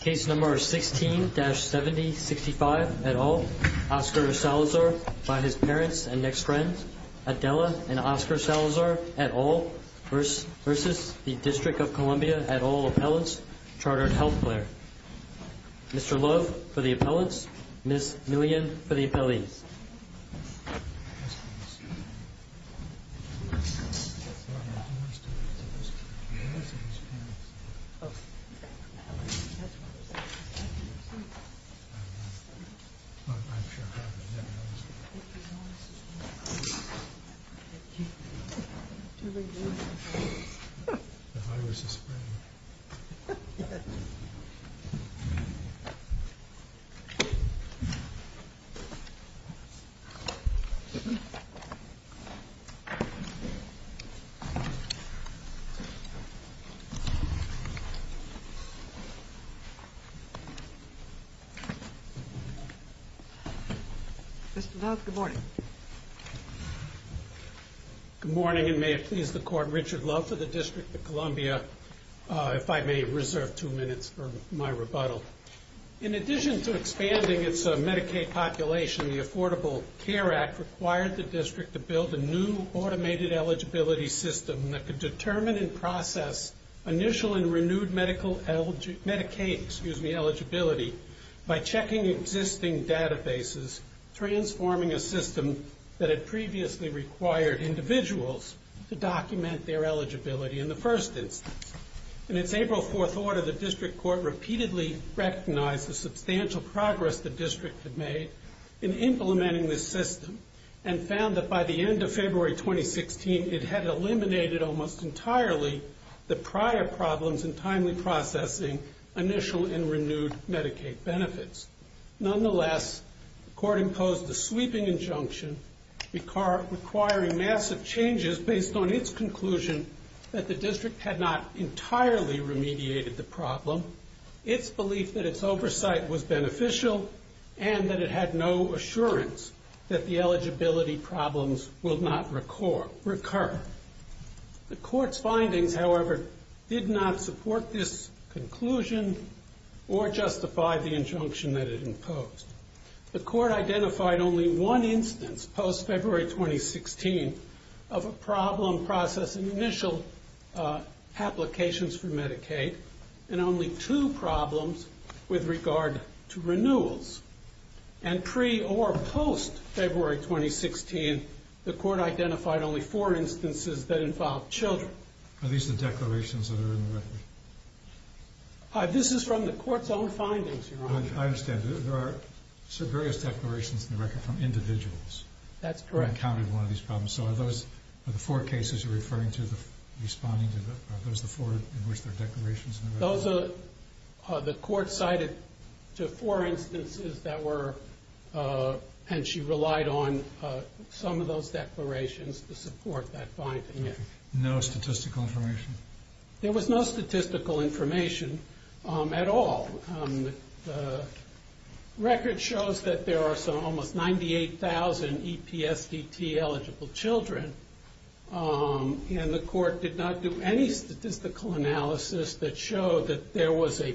Case number 16-7065, et al., Oscar Salazar, by his parents and next friends, Adela and Oscar Salazar, et al., versus the District of Columbia, et al., Appelants Chartered Health Plan. Mr. Love for the appellants, Ms. Millian for the appellees. Mr. Love for the appellants, Ms. Millian for the appellants. Mr. Love, good morning. Good morning, and may it please the Court, Richard Love for the District of Columbia, if I may reserve two minutes for my rebuttal. In addition to expanding its Medicaid population, the Affordable Care Act required the district to build a new automated eligibility system that could determine and process initial and renewed Medicaid eligibility by checking existing databases, transforming a system that had previously required individuals to document their eligibility in the first instance. In its April 4th order, the district court repeatedly recognized the substantial progress the district had made in implementing this system and found that by the end of February 2016, it had eliminated almost entirely the prior problems in timely processing initial and renewed Medicaid benefits. Nonetheless, the court imposed a sweeping injunction requiring massive changes based on its conclusion that the district had not entirely remediated the problem, its belief that its oversight was beneficial, and that it had no assurance that the eligibility problems will not recur. The court's findings, however, did not support this conclusion or justify the injunction that it imposed. The court identified only one instance post-February 2016 of a problem processing initial applications for Medicaid, and only two problems with regard to renewals. And pre- or post-February 2016, the court identified only four instances that involved children. Are these the declarations that are in the record? This is from the court's own findings, Your Honor. I understand. There are various declarations in the record from individuals. That's correct. Who encountered one of these problems. So are those the four cases you're referring to, responding to? Are those the four in which there are declarations in the record? Those are the court cited to four instances that were, and she relied on some of those declarations to support that finding. No statistical information? There was no statistical information at all. The record shows that there are some almost 98,000 EPSDT-eligible children, and the court did not do any statistical analysis that showed that there was a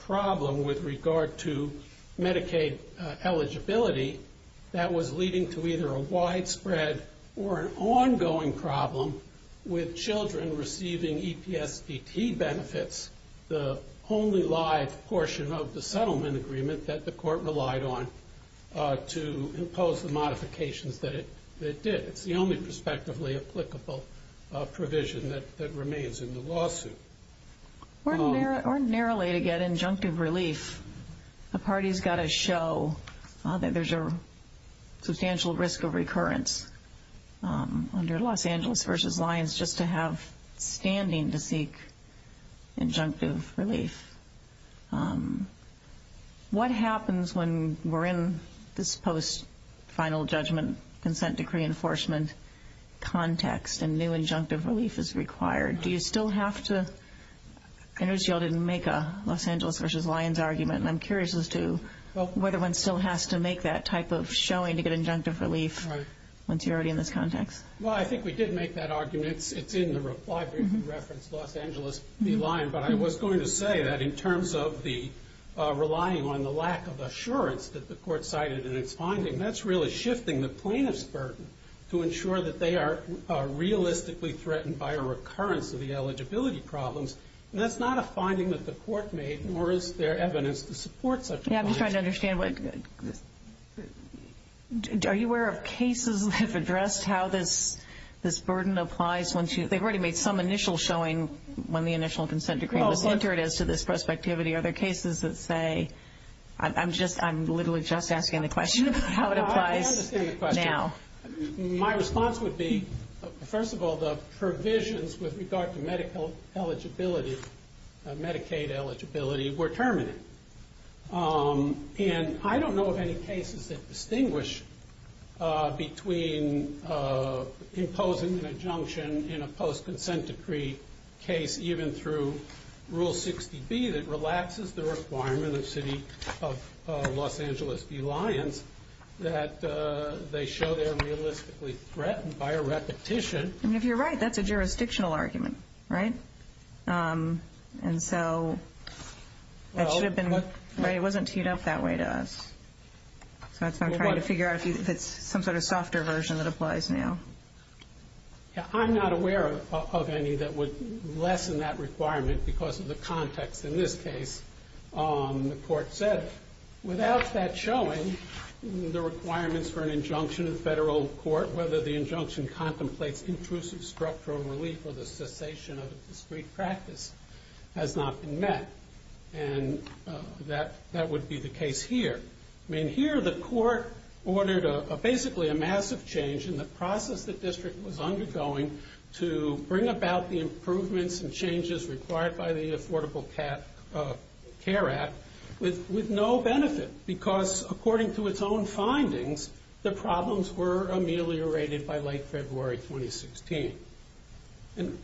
problem with regard to Medicaid eligibility that was leading to either a widespread or an ongoing problem with children receiving EPSDT benefits, the only live portion of the settlement agreement that the court relied on to impose the modifications that it did. It's the only prospectively applicable provision that remains in the lawsuit. Ordinarily to get injunctive relief, a party's got to show that there's a substantial risk of recurrence under Los Angeles v. Lyons just to have standing to seek injunctive relief. What happens when we're in this post-final judgment consent decree enforcement context and new injunctive relief is required? Do you still have to—I noticed you all didn't make a Los Angeles v. Lyons argument, and I'm curious as to whether one still has to make that type of showing to get injunctive relief once you're already in this context. Well, I think we did make that argument. It's in the reply brief that referenced Los Angeles v. Lyons, but I was going to say that in terms of relying on the lack of assurance that the court cited in its finding, that's really shifting the plaintiff's burden to ensure that they are realistically threatened by a recurrence of the eligibility problems. And that's not a finding that the court made, nor is there evidence to support such a finding. Yeah, I'm just trying to understand. Are you aware of cases that have addressed how this burden applies once you— they've already made some initial showing when the initial consent decree was entered as to this prospectivity. Are there cases that say—I'm literally just asking the question about how it applies now. I understand the question. My response would be, first of all, the provisions with regard to Medicaid eligibility were terminated. And I don't know of any cases that distinguish between imposing an injunction in a post-consent decree case, even through Rule 60B that relaxes the requirement of Los Angeles v. Lyons that they show they're realistically threatened by a repetition. If you're right, that's a jurisdictional argument, right? And so it should have been—it wasn't teed up that way to us. So I'm trying to figure out if it's some sort of softer version that applies now. I'm not aware of any that would lessen that requirement because of the context in this case. The court said, without that showing, the requirements for an injunction in federal court, whether the injunction contemplates intrusive structural relief or the cessation of a discreet practice, has not been met. And that would be the case here. I mean, here the court ordered basically a massive change in the process the district was undergoing to bring about the improvements and changes required by the Affordable Care Act with no benefit because, according to its own findings, the problems were ameliorated by late February 2016. And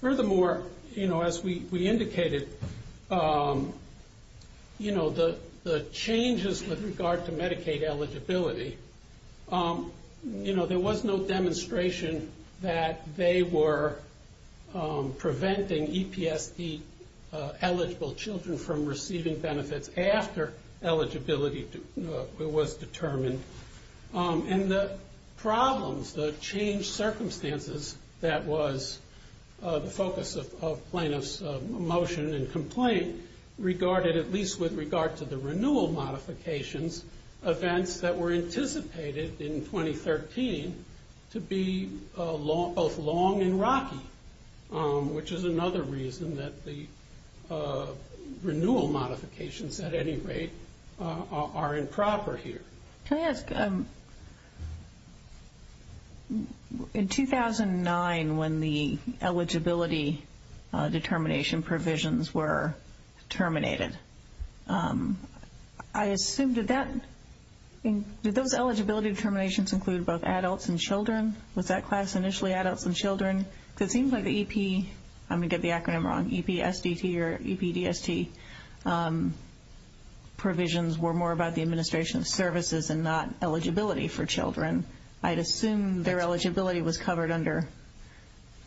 furthermore, you know, as we indicated, you know, the changes with regard to Medicaid eligibility, you know, there was no demonstration that they were preventing EPSD-eligible children from receiving benefits after eligibility was determined. And the problems, the changed circumstances that was the focus of plaintiff's motion and complaint regarded, at least with regard to the renewal modifications, events that were anticipated in 2013 to be both long and rocky, which is another reason that the renewal modifications, at any rate, are improper here. Can I ask, in 2009 when the eligibility determination provisions were terminated, I assume did that, did those eligibility determinations include both adults and children? Was that class initially adults and children? Because it seems like the EP, I'm going to get the acronym wrong, EPSDT or EPDST provisions were more about the administration of services and not eligibility for children. I'd assume their eligibility was covered under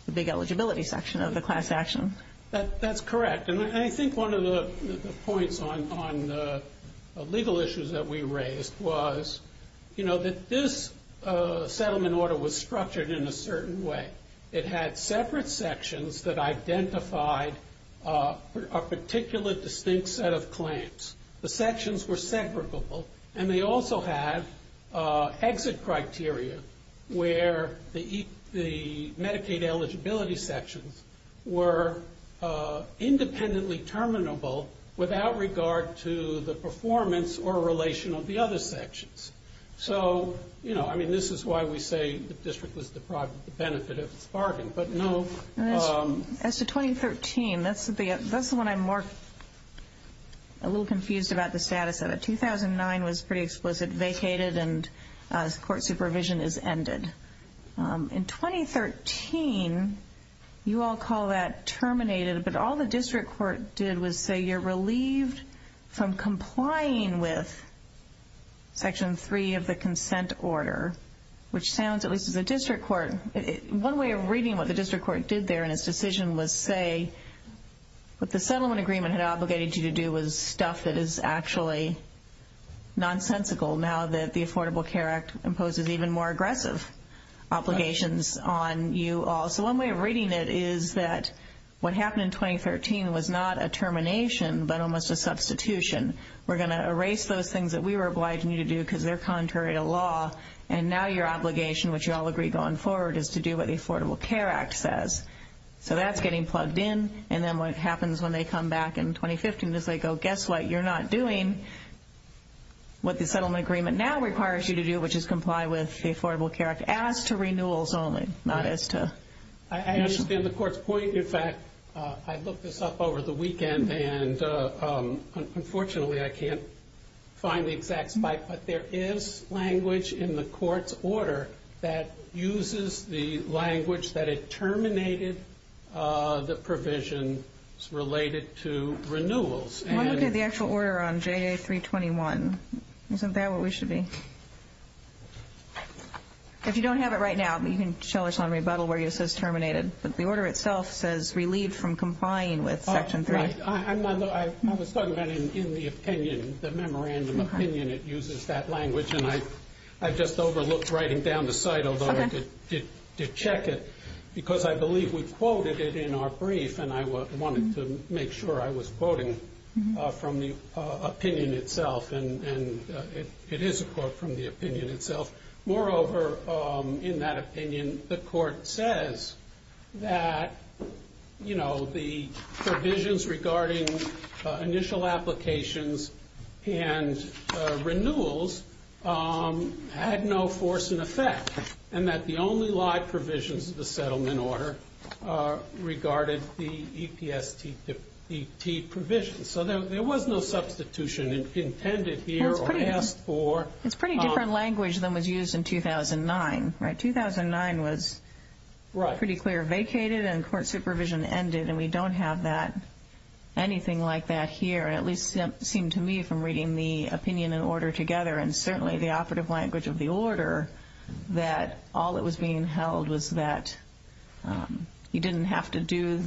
the big eligibility section of the class action. That's correct. And I think one of the points on the legal issues that we raised was, you know, that this settlement order was structured in a certain way. It had separate sections that identified a particular distinct set of claims. The sections were separable, and they also had exit criteria where the Medicaid eligibility sections were independently terminable without regard to the performance or relation of the other sections. So, you know, I mean, this is why we say the district was deprived of the benefit of its bargain, but no. As to 2013, that's the one I'm more, a little confused about the status of it. 2009 was pretty explicit, vacated, and court supervision is ended. In 2013, you all call that terminated, but all the district court did was say you're relieved from complying with Section 3 of the consent order, which sounds, at least as a district court, one way of reading what the district court did there in its decision was say what the settlement agreement had obligated you to do was stuff that is actually nonsensical now that the Affordable Care Act imposes even more aggressive obligations on you all. So one way of reading it is that what happened in 2013 was not a termination but almost a substitution. We're going to erase those things that we were obliging you to do because they're contrary to law, and now your obligation, which you all agree going forward, is to do what the Affordable Care Act says. So that's getting plugged in, and then what happens when they come back in 2015 is they go, guess what, you're not doing what the settlement agreement now requires you to do, which is comply with the Affordable Care Act as to renewals only, not as to... I understand the court's point. In fact, I looked this up over the weekend, and unfortunately I can't find the exact spike, but there is language in the court's order that uses the language that it terminated the provisions related to renewals. Well, look at the actual order on JA321. Isn't that what we should be? If you don't have it right now, you can show us on rebuttal where it says terminated, but the order itself says relieved from complying with Section 3. I was talking about in the opinion, the memorandum opinion, it uses that language, and I just overlooked writing down the site, although I did check it, because I believe we quoted it in our brief, and I wanted to make sure I was quoting from the opinion itself, and it is a quote from the opinion itself. Moreover, in that opinion, the court says that the provisions regarding initial applications and renewals had no force and effect, and that the only live provisions of the settlement order regarded the EPSTDT provisions. So there was no substitution intended here or asked for. It's a pretty different language than was used in 2009, right? 2009 was pretty clear vacated, and court supervision ended, and we don't have anything like that here, at least it seemed to me from reading the opinion and order together, and certainly the operative language of the order, that all that was being held was that you didn't have to do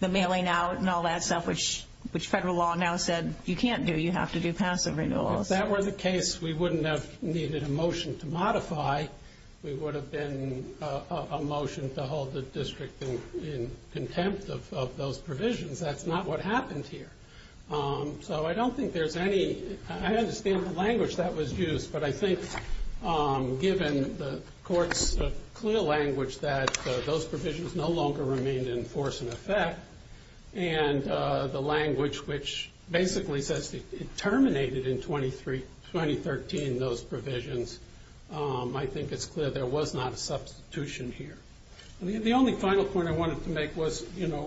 the mailing out and all that stuff, which federal law now said you can't do. You have to do passive renewals. If that were the case, we wouldn't have needed a motion to modify. We would have been a motion to hold the district in contempt of those provisions. That's not what happened here. So I don't think there's any, I understand the language that was used, but I think given the court's clear language that those provisions no longer remained in force and effect, and the language which basically says it terminated in 2013 those provisions, I think it's clear there was not a substitution here. The only final point I wanted to make was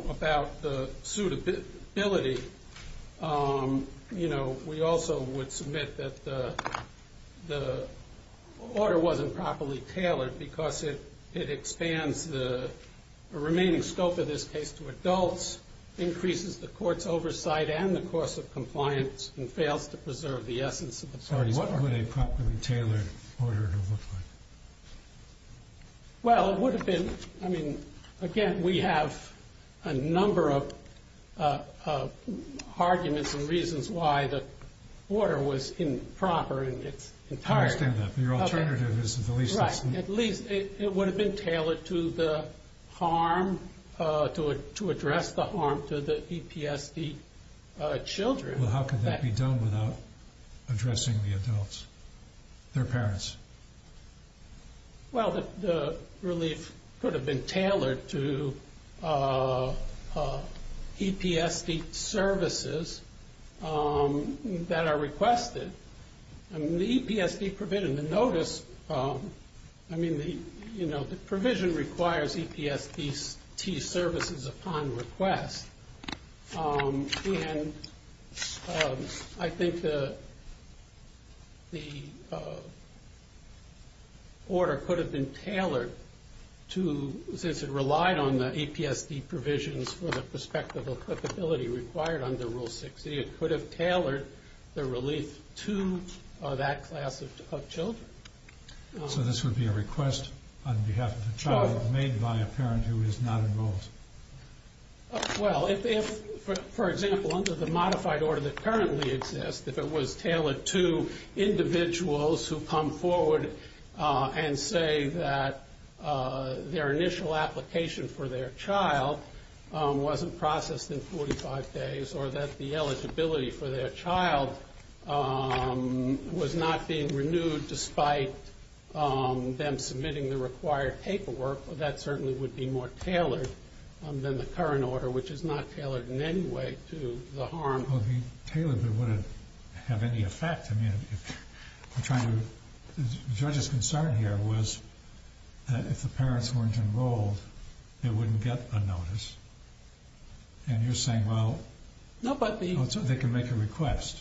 about the suitability. We also would submit that the order wasn't properly tailored because it expands the remaining scope of this case to adults, increases the court's oversight and the course of compliance, and fails to preserve the essence of the parties. What would a properly tailored order look like? Well, it would have been, I mean, again, we have a number of arguments and reasons why the order was improper in its entirety. I understand that. Your alternative is the relief system. Right, at least it would have been tailored to the harm, to address the harm to the EPSD children. Well, how could that be done without addressing the adults, their parents? Well, the relief could have been tailored to EPSD services that are requested. I mean, the EPSD provision, the notice, I mean, the provision requires EPSD services upon request, and I think the order could have been tailored to, since it relied on the EPSD provisions for the prospect of applicability required under Rule 6e, it could have tailored the relief to that class of children. So this would be a request on behalf of the child made by a parent who is not enrolled? Well, if, for example, under the modified order that currently exists, if it was tailored to individuals who come forward and say that their initial application for their child wasn't processed in 45 days or that the eligibility for their child was not being renewed despite them submitting the required paperwork, that certainly would be more tailored than the current order, which is not tailored in any way to the harm. Well, if it was tailored, it wouldn't have any effect. The judge's concern here was that if the parents weren't enrolled, they wouldn't get a notice. And you're saying, well, they can make a request.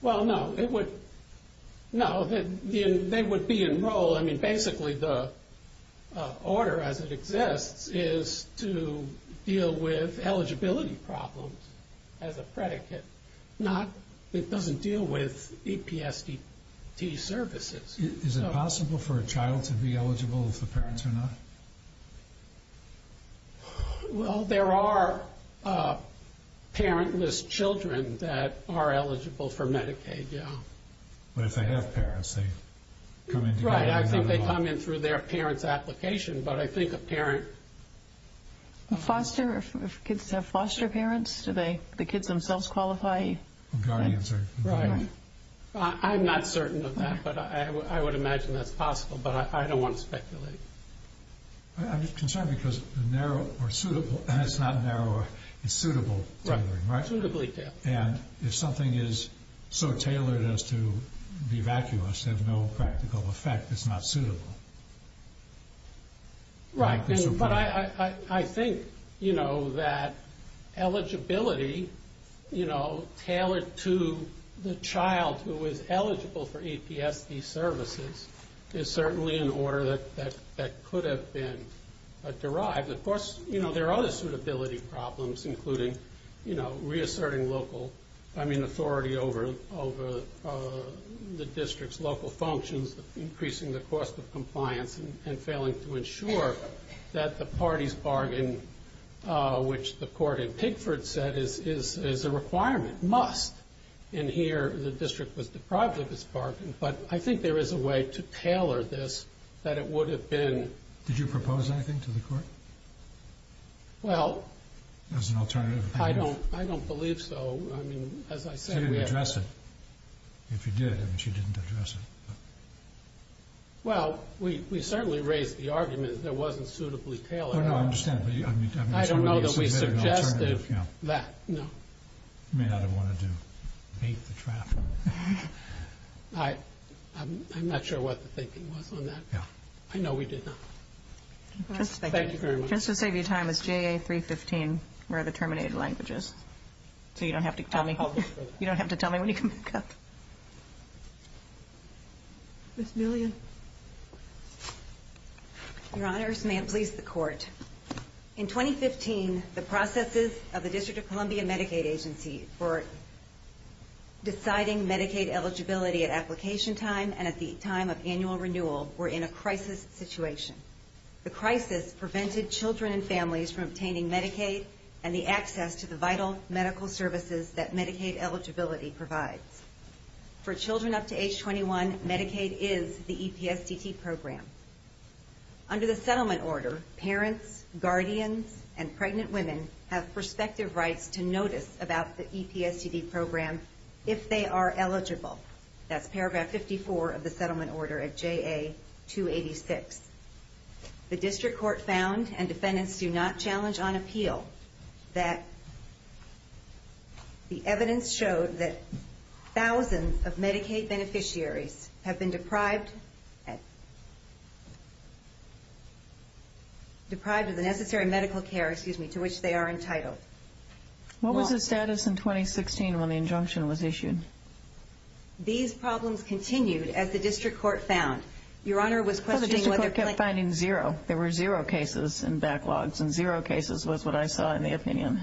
Well, no, they would be enrolled. I mean, basically the order as it exists is to deal with eligibility problems as a predicate. It doesn't deal with EPSDT services. Is it possible for a child to be eligible if the parents are not? Well, there are parentless children that are eligible for Medicaid, yeah. But if they have parents, they come in together? Right, I think they come in through their parent's application, but I think a parent... Foster, if kids have foster parents, do the kids themselves qualify? Guardians. I'm not certain of that, but I would imagine that's possible, but I don't want to speculate. I'm just concerned because the narrow or suitable, and it's not narrow, it's suitable, right? Suitably tailored. And if something is so tailored as to be vacuous, have no practical effect, it's not suitable. Right, but I think that eligibility tailored to the child who is eligible for EPSD services is certainly an order that could have been derived. Of course, there are other suitability problems, including reasserting local authority over the district's local functions, increasing the cost of compliance and failing to ensure that the party's bargain, which the court in Pigford said is a requirement, must, and here the district was deprived of its bargain, but I think there is a way to tailor this that it would have been... Did you propose anything to the court as an alternative? I don't believe so. She didn't address it. If you did, she didn't address it. Well, we certainly raised the argument that it wasn't suitably tailored. Oh, no, I understand. I don't know that we suggested that, no. You may not have wanted to bait the trap. I'm not sure what the thinking was on that. I know we did not. Thank you very much. Just to save you time, is JA 315 where the terminated language is? So you don't have to tell me when you come back up. Ms. Millian. Your Honors, may it please the Court. In 2015, the processes of the District of Columbia Medicaid Agency for deciding Medicaid eligibility at application time and at the time of annual renewal were in a crisis situation. The crisis prevented children and families from obtaining Medicaid and the access to the vital medical services that Medicaid eligibility provides. For children up to age 21, Medicaid is the EPSDT program. Under the settlement order, parents, guardians, and pregnant women have prospective rights to notice about the EPSDT program if they are eligible. That's paragraph 54 of the settlement order at JA 286. The district court found, and defendants do not challenge on appeal, that the evidence showed that thousands of Medicaid beneficiaries have been deprived of the necessary medical care to which they are entitled. What was the status in 2016 when the injunction was issued? These problems continued as the district court found. Your Honor was questioning whether plaintiffs... Well, the district court kept finding zero. There were zero cases and backlogs, and zero cases was what I saw in the opinion.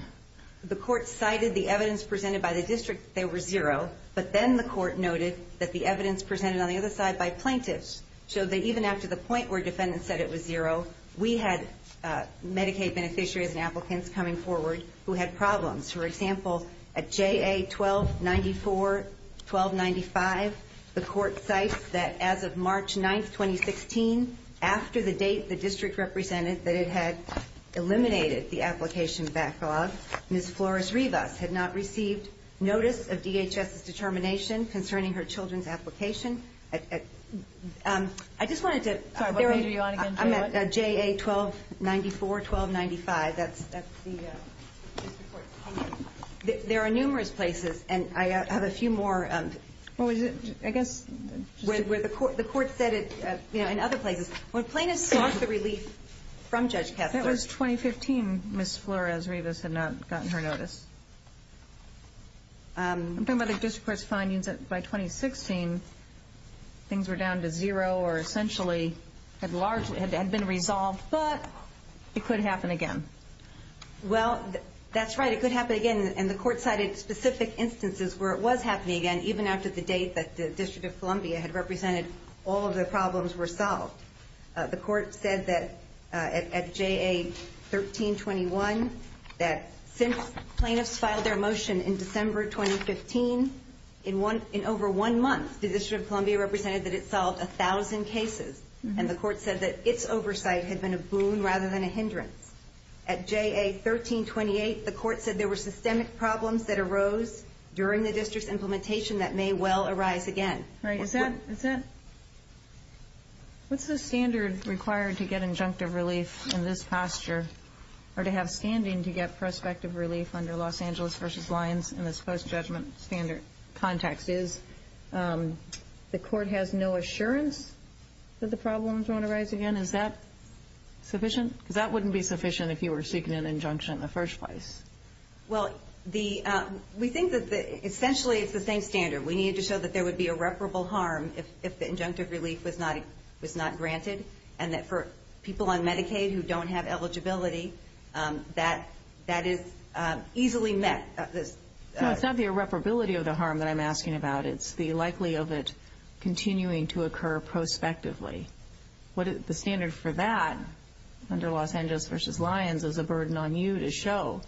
The court cited the evidence presented by the district that they were zero, but then the court noted that the evidence presented on the other side by plaintiffs showed that even after the point where defendants said it was zero, we had Medicaid beneficiaries and applicants coming forward who had problems. For example, at JA 1294, 1295, the court cites that as of March 9, 2016, after the date the district represented that it had eliminated the application backlog, Ms. Flores-Rivas had not received notice of DHS's determination concerning her children's application. I just wanted to... At JA 1294, 1295, that's the district court finding. There are numerous places, and I have a few more, I guess, where the court said it in other places. When plaintiffs sought the relief from Judge Kessler... That was 2015, Ms. Flores-Rivas had not gotten her notice. I'm talking about the district court's findings that by 2016 things were down to zero or essentially had been resolved, but it could happen again. Well, that's right, it could happen again, and the court cited specific instances where it was happening again, even after the date that the District of Columbia had represented all of the problems were solved. The court said that at JA 1321 that since plaintiffs filed their motion in December 2015, in over one month the District of Columbia represented that it solved a thousand cases, and the court said that its oversight had been a boon rather than a hindrance. At JA 1328, the court said there were systemic problems that arose during the district's implementation that may well arise again. Right, is that... What's the standard required to get injunctive relief in this posture or to have standing to get prospective relief under Los Angeles v. Lyons in this post-judgment standard context is the court has no assurance that the problems won't arise again? Is that sufficient? Because that wouldn't be sufficient if you were seeking an injunction in the first place. Well, we think that essentially it's the same standard. We need to show that there would be irreparable harm if the injunctive relief was not granted and that for people on Medicaid who don't have eligibility, that is easily met. No, it's not the irreparability of the harm that I'm asking about. It's the likelihood of it continuing to occur prospectively. The standard for that under Los Angeles v. Lyons is a burden on you to show...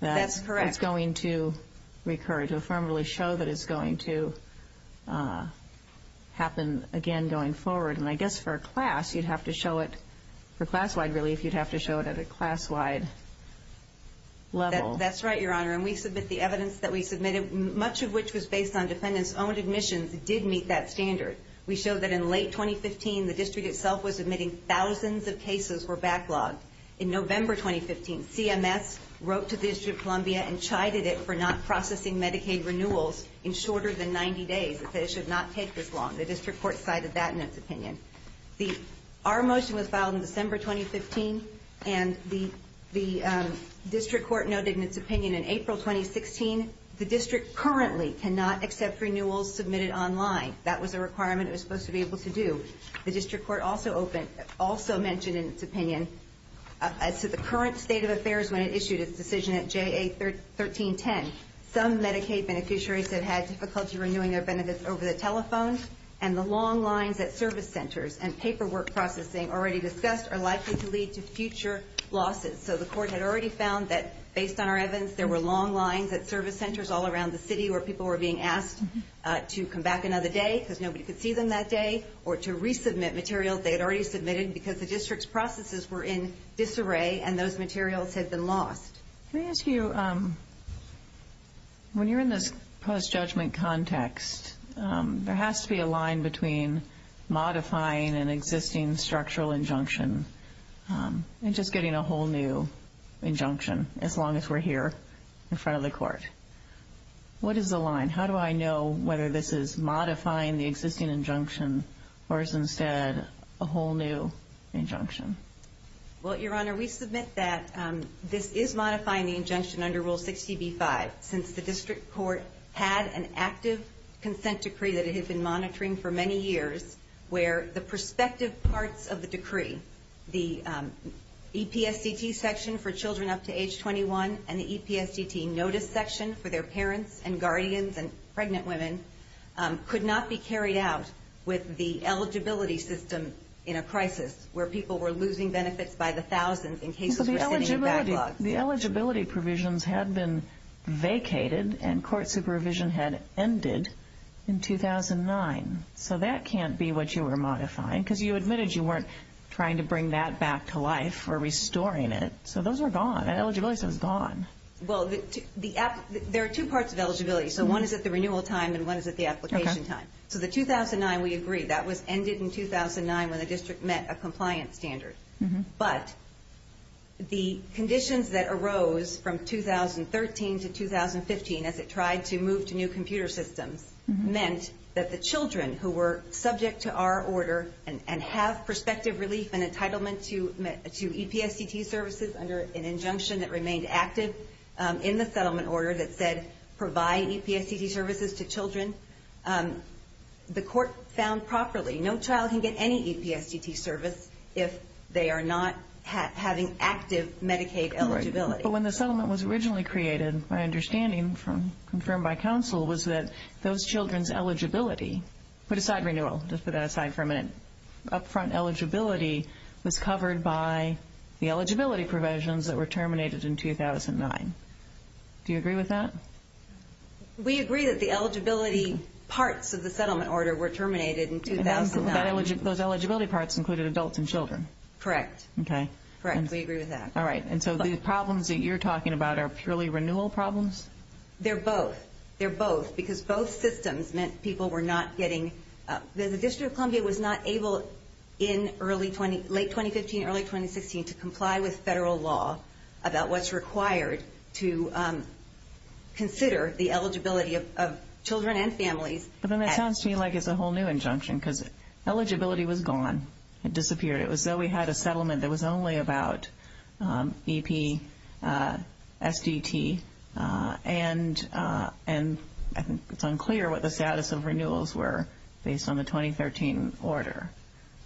That's correct. ...that it's going to recur, to affirmably show that it's going to happen again going forward. And I guess for a class, you'd have to show it... For class-wide relief, you'd have to show it at a class-wide level. That's right, Your Honor. And we submit the evidence that we submitted, much of which was based on defendants' own admissions, did meet that standard. We showed that in late 2015, the district itself was admitting thousands of cases were backlogged. In November 2015, CMS wrote to the District of Columbia and chided it for not processing Medicaid renewals in shorter than 90 days, that they should not take this long. The district court cited that in its opinion. Our motion was filed in December 2015, and the district court noted in its opinion in April 2016, the district currently cannot accept renewals submitted online. That was a requirement it was supposed to be able to do. The district court also mentioned in its opinion, as to the current state of affairs when it issued its decision at JA 1310, some Medicaid beneficiaries have had difficulty renewing their benefits over the telephone, and the long lines at service centers and paperwork processing already discussed are likely to lead to future losses. So the court had already found that, based on our evidence, there were long lines at service centers all around the city where people were being asked to come back another day, because nobody could see them that day, or to resubmit materials they had already submitted because the district's processes were in disarray and those materials had been lost. Let me ask you, when you're in this post-judgment context, there has to be a line between modifying an existing structural injunction and just getting a whole new injunction, as long as we're here in front of the court. What is the line? How do I know whether this is modifying the existing injunction, or is instead a whole new injunction? Well, Your Honor, we submit that this is modifying the injunction under Rule 60b-5 since the district court had an active consent decree that it had been monitoring for many years where the prospective parts of the decree, the EPSDT section for children up to age 21 and the EPSDT notice section for their parents and guardians and pregnant women, could not be carried out with the eligibility system in a crisis where people were losing benefits by the thousands in cases where they were sitting in backlogs. But the eligibility provisions had been vacated and court supervision had ended in 2009. So that can't be what you were modifying, because you admitted you weren't trying to bring that back to life or restoring it. So those are gone. Eligibility system is gone. Well, there are two parts of eligibility. So one is at the renewal time and one is at the application time. So the 2009, we agree, that was ended in 2009 when the district met a compliance standard. But the conditions that arose from 2013 to 2015 as it tried to move to new computer systems meant that the children who were subject to our order and have prospective relief and entitlement to EPSDT services under an injunction that remained active in the settlement order that said provide EPSDT services to children, the court found properly no child can get any EPSDT service if they are not having active Medicaid eligibility. Right. But when the settlement was originally created, my understanding confirmed by counsel was that those children's eligibility, put aside renewal, just put that aside for a minute, upfront eligibility was covered by the eligibility provisions that were terminated in 2009. Do you agree with that? We agree that the eligibility parts of the settlement order were terminated in 2009. Those eligibility parts included adults and children? Correct. Okay. Correct, we agree with that. All right. And so the problems that you're talking about are purely renewal problems? They're both. They're both because both systems meant people were not getting, the District of Columbia was not able in late 2015, early 2016, to comply with federal law about what's required to consider the eligibility of children and families. But then that sounds to me like it's a whole new injunction because eligibility was gone. It disappeared. It was though we had a settlement that was only about EPSDT, and I think it's unclear what the status of renewals were based on the 2013 order.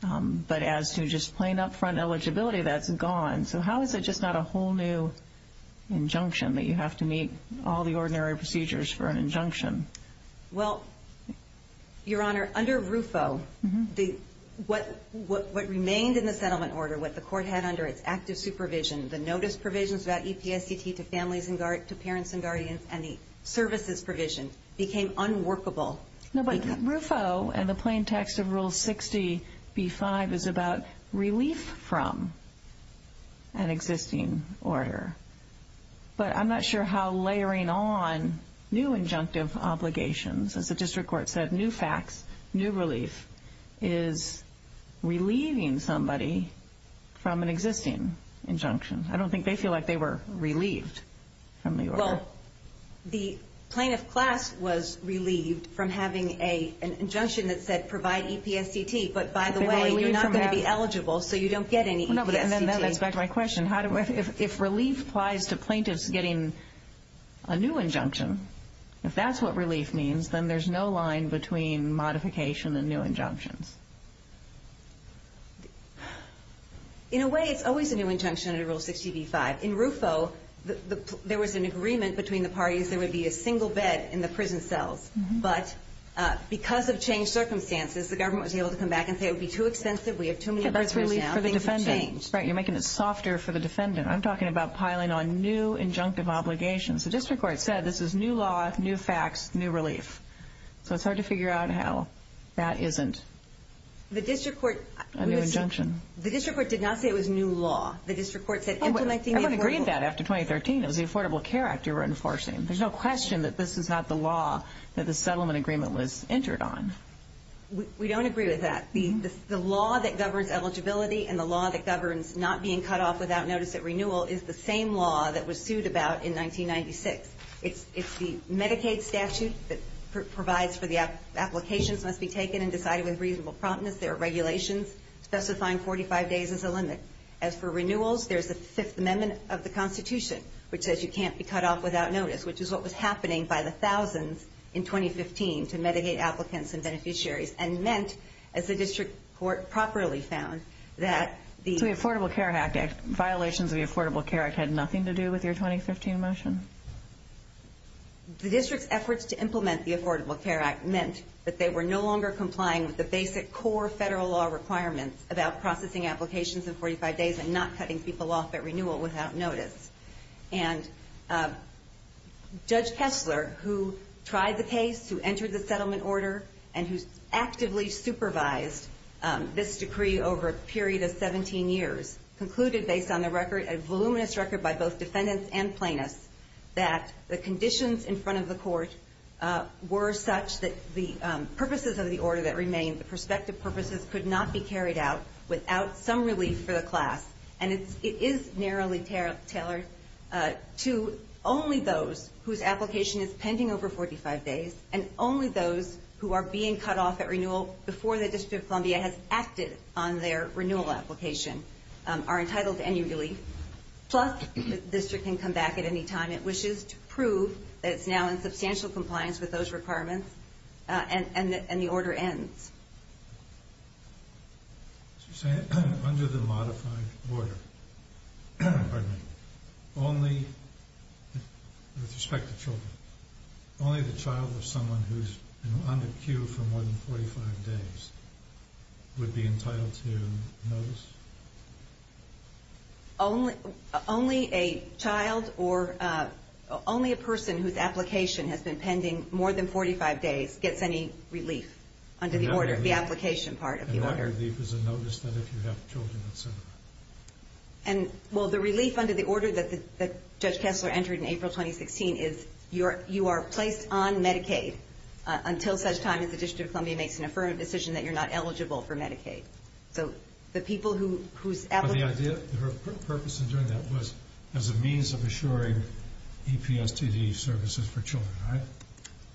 But as to just plain upfront eligibility, that's gone. So how is it just not a whole new injunction that you have to meet all the ordinary procedures for an injunction? Well, Your Honor, under RUFO, what remained in the settlement order, what the court had under its active supervision, the notice provisions about EPSDT to families and parents and guardians, and the services provision became unworkable. No, but RUFO and the plain text of Rule 60b-5 is about relief from an existing order. But I'm not sure how layering on new injunctive obligations, as the district court said, new facts, new relief, is relieving somebody from an existing injunction. I don't think they feel like they were relieved from the order. Well, the plaintiff class was relieved from having an injunction that said provide EPSDT, but by the way, you're not going to be eligible, so you don't get any EPSDT. That's back to my question. If relief applies to plaintiffs getting a new injunction, if that's what relief means, then there's no line between modification and new injunctions. In a way, it's always a new injunction under Rule 60b-5. In RUFO, there was an agreement between the parties there would be a single bed in the prison cells, but because of changed circumstances, the government was able to come back and say it would be too expensive, we have too many prisoners now, things have changed. You're making it softer for the defendant. I'm talking about piling on new injunctive obligations. The district court said this is new law, new facts, new relief. So it's hard to figure out how that isn't a new injunction. The district court did not say it was new law. The district court said implementing a new rule. Everyone agreed to that after 2013. It was the Affordable Care Act you were enforcing. There's no question that this is not the law that the settlement agreement was entered on. We don't agree with that. The law that governs eligibility and the law that governs not being cut off without notice at renewal is the same law that was sued about in 1996. It's the Medicaid statute that provides for the applications must be taken and decided with reasonable promptness. There are regulations specifying 45 days as a limit. As for renewals, there's the Fifth Amendment of the Constitution, which says you can't be cut off without notice, which is what was happening by the thousands in 2015 to Medicaid applicants and beneficiaries and meant, as the district court properly found, that the Affordable Care Act, violations of the Affordable Care Act had nothing to do with your 2015 motion. The district's efforts to implement the Affordable Care Act meant that they were no longer complying with the basic core federal law requirements about processing applications in 45 days and not cutting people off at renewal without notice. And Judge Kessler, who tried the case, who entered the settlement order, and who actively supervised this decree over a period of 17 years, concluded based on the record, a voluminous record by both defendants and plaintiffs, that the conditions in front of the court were such that the purposes of the order that remained, the prospective purposes, could not be carried out without some relief for the class. And it is narrowly tailored to only those whose application is pending over 45 days and only those who are being cut off at renewal before the District of Columbia has acted on their renewal application are entitled to any relief. Plus, the district can come back at any time it wishes to prove that it's now in substantial compliance with those requirements and the order ends. So you're saying that under the modified order, only, with respect to children, only the child of someone who's been on the queue for more than 45 days would be entitled to notice? Only a child or only a person whose application has been pending more than 45 days gets any relief under the order, the application part of the order. And that relief is a notice that if you have children, et cetera. And, well, the relief under the order that Judge Kessler entered in April 2016 is you are placed on Medicaid until such time as the District of Columbia makes an affirmative decision that you're not eligible for Medicaid. So the people whose application... But the purpose in doing that was as a means of assuring EPSDT services for children, right?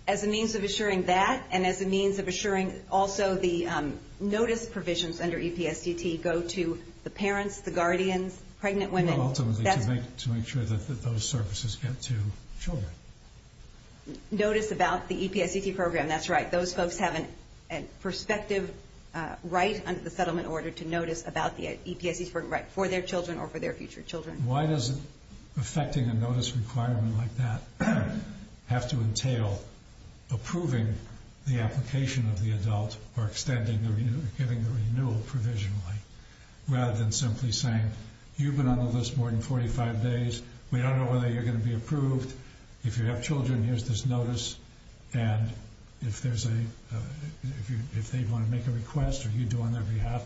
As a means of assuring that and as a means of assuring also the notice provisions under EPSDT go to the parents, the guardians, pregnant women. Ultimately to make sure that those services get to children. Notice about the EPSDT program, that's right. Those folks have a prospective right under the settlement order to notice about the EPSDT program for their children or for their future children. Why does affecting a notice requirement like that have to entail approving the application of the adult or extending or giving the renewal provisionally? Rather than simply saying, you've been on the list more than 45 days. We don't know whether you're going to be approved. If you have children, here's this notice. And if there's a... If they want to make a request or you do on their behalf,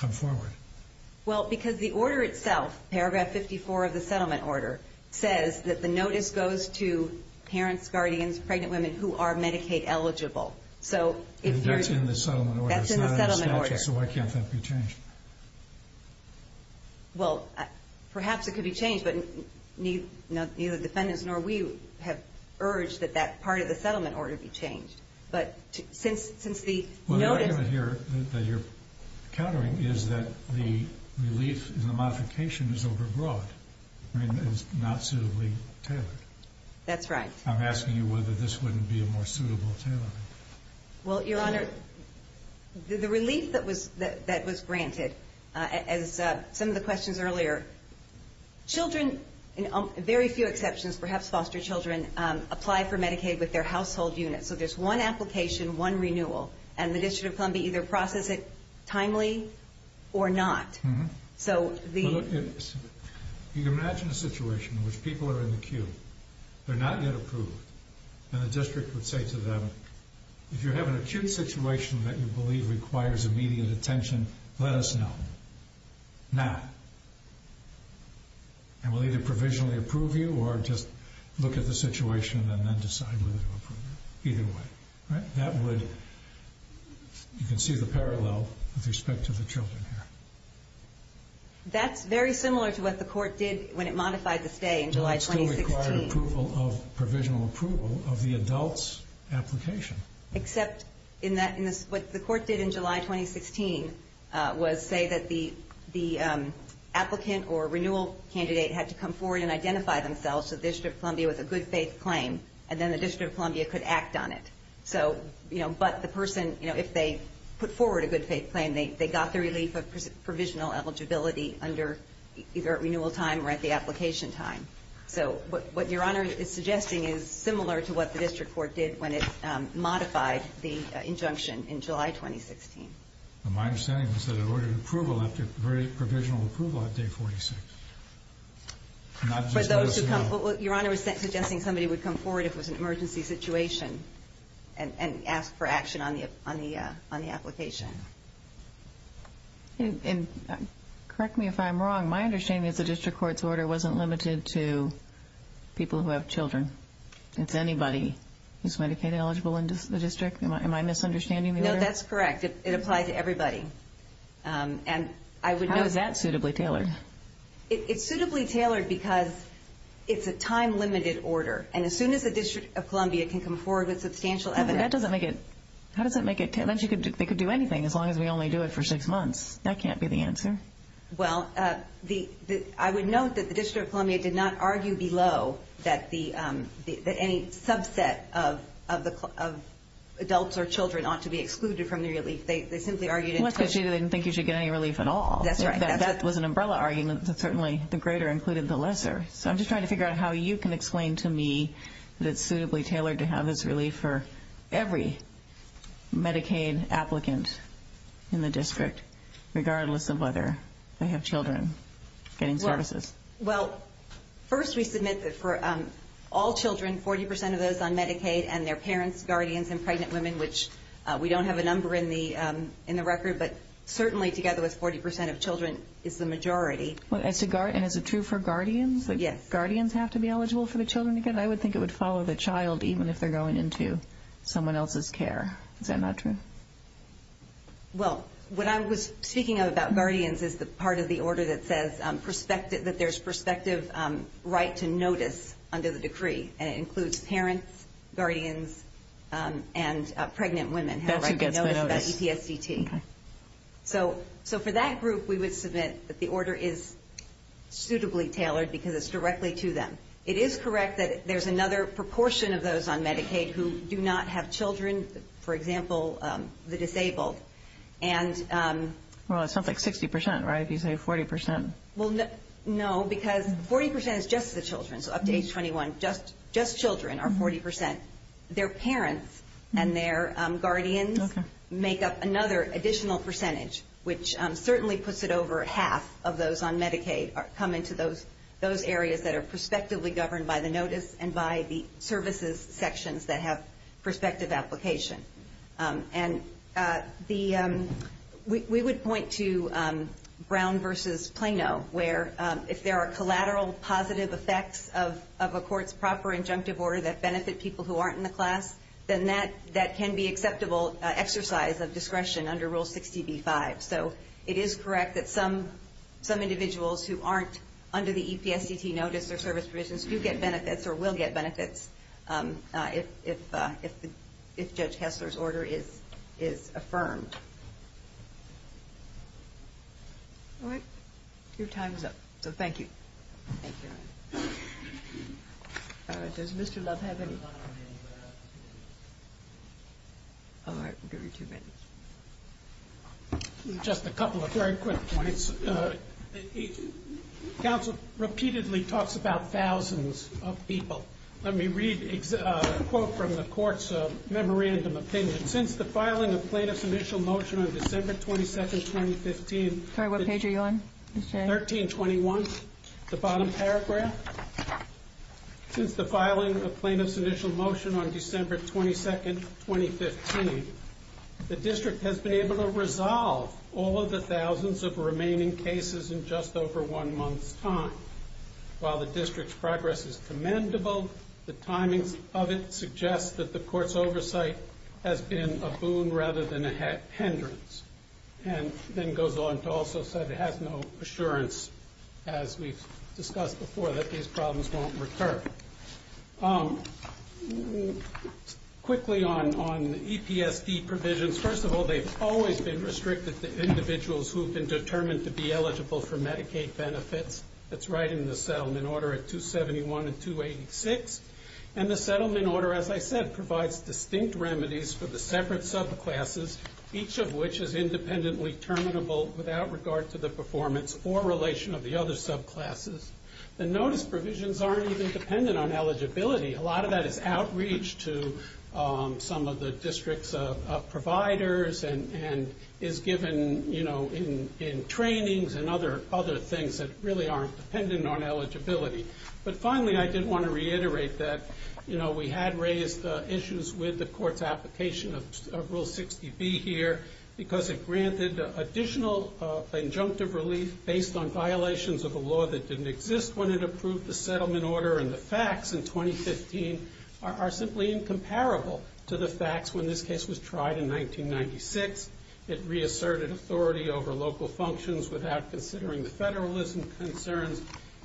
come forward. Well, because the order itself, paragraph 54 of the settlement order, says that the notice goes to parents, guardians, pregnant women who are Medicaid eligible. So if you're... That's in the settlement order. That's in the settlement order. It's not in the statute, so why can't that be changed? Well, perhaps it could be changed, but neither defendants nor we have urged that that part of the settlement order be changed. But since the notice... Well, the argument here that you're countering is that the relief in the modification is overbroad. I mean, it's not suitably tailored. That's right. I'm asking you whether this wouldn't be a more suitable tailoring. Well, Your Honor, the relief that was granted, as some of the questions earlier, children, very few exceptions, perhaps foster children, apply for Medicaid with their household unit. So there's one application, one renewal, and the District of Columbia either process it timely or not. So the... You can imagine a situation in which people are in the queue. They're not yet approved. And the district would say to them, if you have an acute situation that you believe requires immediate attention, let us know. Now. And we'll either provisionally approve you or just look at the situation and then decide whether to approve you. Either way. That would... You can see the parallel with respect to the children here. That's very similar to what the court did when it modified the stay in July 2016. It required provisional approval of the adult's application. Except what the court did in July 2016 was say that the applicant or renewal candidate had to come forward and identify themselves to the District of Columbia with a good faith claim, and then the District of Columbia could act on it. But the person, if they put forward a good faith claim, they got the relief of provisional eligibility either at renewal time or at the application time. So what Your Honor is suggesting is similar to what the district court did when it modified the injunction in July 2016. My understanding is that it ordered approval after very provisional approval at day 46. Not just what it said. Your Honor is suggesting somebody would come forward if it was an emergency situation and ask for action on the application. Correct me if I'm wrong. My understanding is the district court's order wasn't limited to people who have children. It's anybody who's Medicaid eligible in the district. Am I misunderstanding the order? No, that's correct. It applies to everybody. How is that suitably tailored? It's suitably tailored because it's a time-limited order. And as soon as the District of Columbia can come forward with substantial evidence... That doesn't make it... They could do anything as long as we only do it for six months. That can't be the answer. Well, I would note that the District of Columbia did not argue below that any subset of adults or children ought to be excluded from the relief. They simply argued... Well, that's because they didn't think you should get any relief at all. That's right. That was an umbrella argument. Certainly the greater included the lesser. So I'm just trying to figure out how you can explain to me that it's suitably tailored to have this relief for every Medicaid applicant in the district regardless of whether they have children getting services. Well, first we submit that for all children, 40% of those on Medicaid and their parents, guardians, and pregnant women, which we don't have a number in the record, but certainly together with 40% of children is the majority. And is it true for guardians? Yes. Does guardians have to be eligible for the children to get? I would think it would follow the child even if they're going into someone else's care. Is that not true? Well, what I was speaking of about guardians is the part of the order that says that there's prospective right to notice under the decree, and it includes parents, guardians, and pregnant women have the right to notice about ETSDT. So for that group, we would submit that the order is suitably tailored because it's directly to them. It is correct that there's another proportion of those on Medicaid who do not have children, for example, the disabled. Well, it sounds like 60%, right, if you say 40%. Well, no, because 40% is just the children. So up to age 21, just children are 40%. Their parents and their guardians make up another additional percentage, which certainly puts it over half of those on Medicaid come into those areas that are prospectively governed by the notice and by the services sections that have prospective application. And we would point to Brown v. Plano, where if there are collateral positive effects of a court's proper injunctive order that benefit people who aren't in the class, then that can be acceptable exercise of discretion under Rule 60b-5. So it is correct that some individuals who aren't under the EPSDT notice or service provisions do get benefits or will get benefits if Judge Hessler's order is affirmed. All right, your time is up, so thank you. Thank you. All right, does Mr. Love have any? All right, we'll give you two minutes. Just a couple of very quick points. Counsel repeatedly talks about thousands of people. Let me read a quote from the court's memorandum opinion. Since the filing of Plano's initial motion on December 22, 2015, Sorry, what page are you on? 1321, the bottom paragraph. Since the filing of Plano's initial motion on December 22, 2015, the district has been able to resolve all of the thousands of remaining cases in just over one month's time. While the district's progress is commendable, the timings of it suggest that the court's oversight has been a boon rather than a hindrance. And then goes on to also say it has no assurance, as we've discussed before, that these problems won't recur. Quickly on EPSD provisions, first of all, they've always been restricted to individuals who've been determined to be eligible for Medicaid benefits. That's right in the settlement order at 271 and 286. And the settlement order, as I said, provides distinct remedies for the separate subclasses, each of which is independently terminable without regard to the performance or relation of the other subclasses. The notice provisions aren't even dependent on eligibility. A lot of that is outreach to some of the district's providers and is given in trainings and other things that really aren't dependent on eligibility. But finally, I did want to reiterate that we had raised issues with the court's application of Rule 60B here because it granted additional injunctive relief based on violations of a law that didn't exist when it approved the settlement order. And the facts in 2015 are simply incomparable to the facts when this case was tried in 1996. It reasserted authority over local functions without considering the federalism concerns.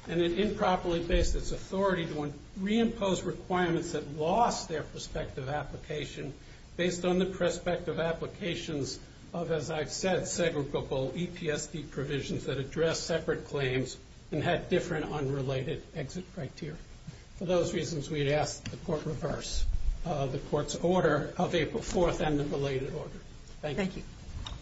And it improperly based its authority to reimpose requirements that lost their prospective application based on the prospective applications of, as I've said, segregable EPSD provisions that address separate claims and had different unrelated exit criteria. For those reasons, we'd ask that the court reverse the court's order of April 4th and the belated order. Thank you.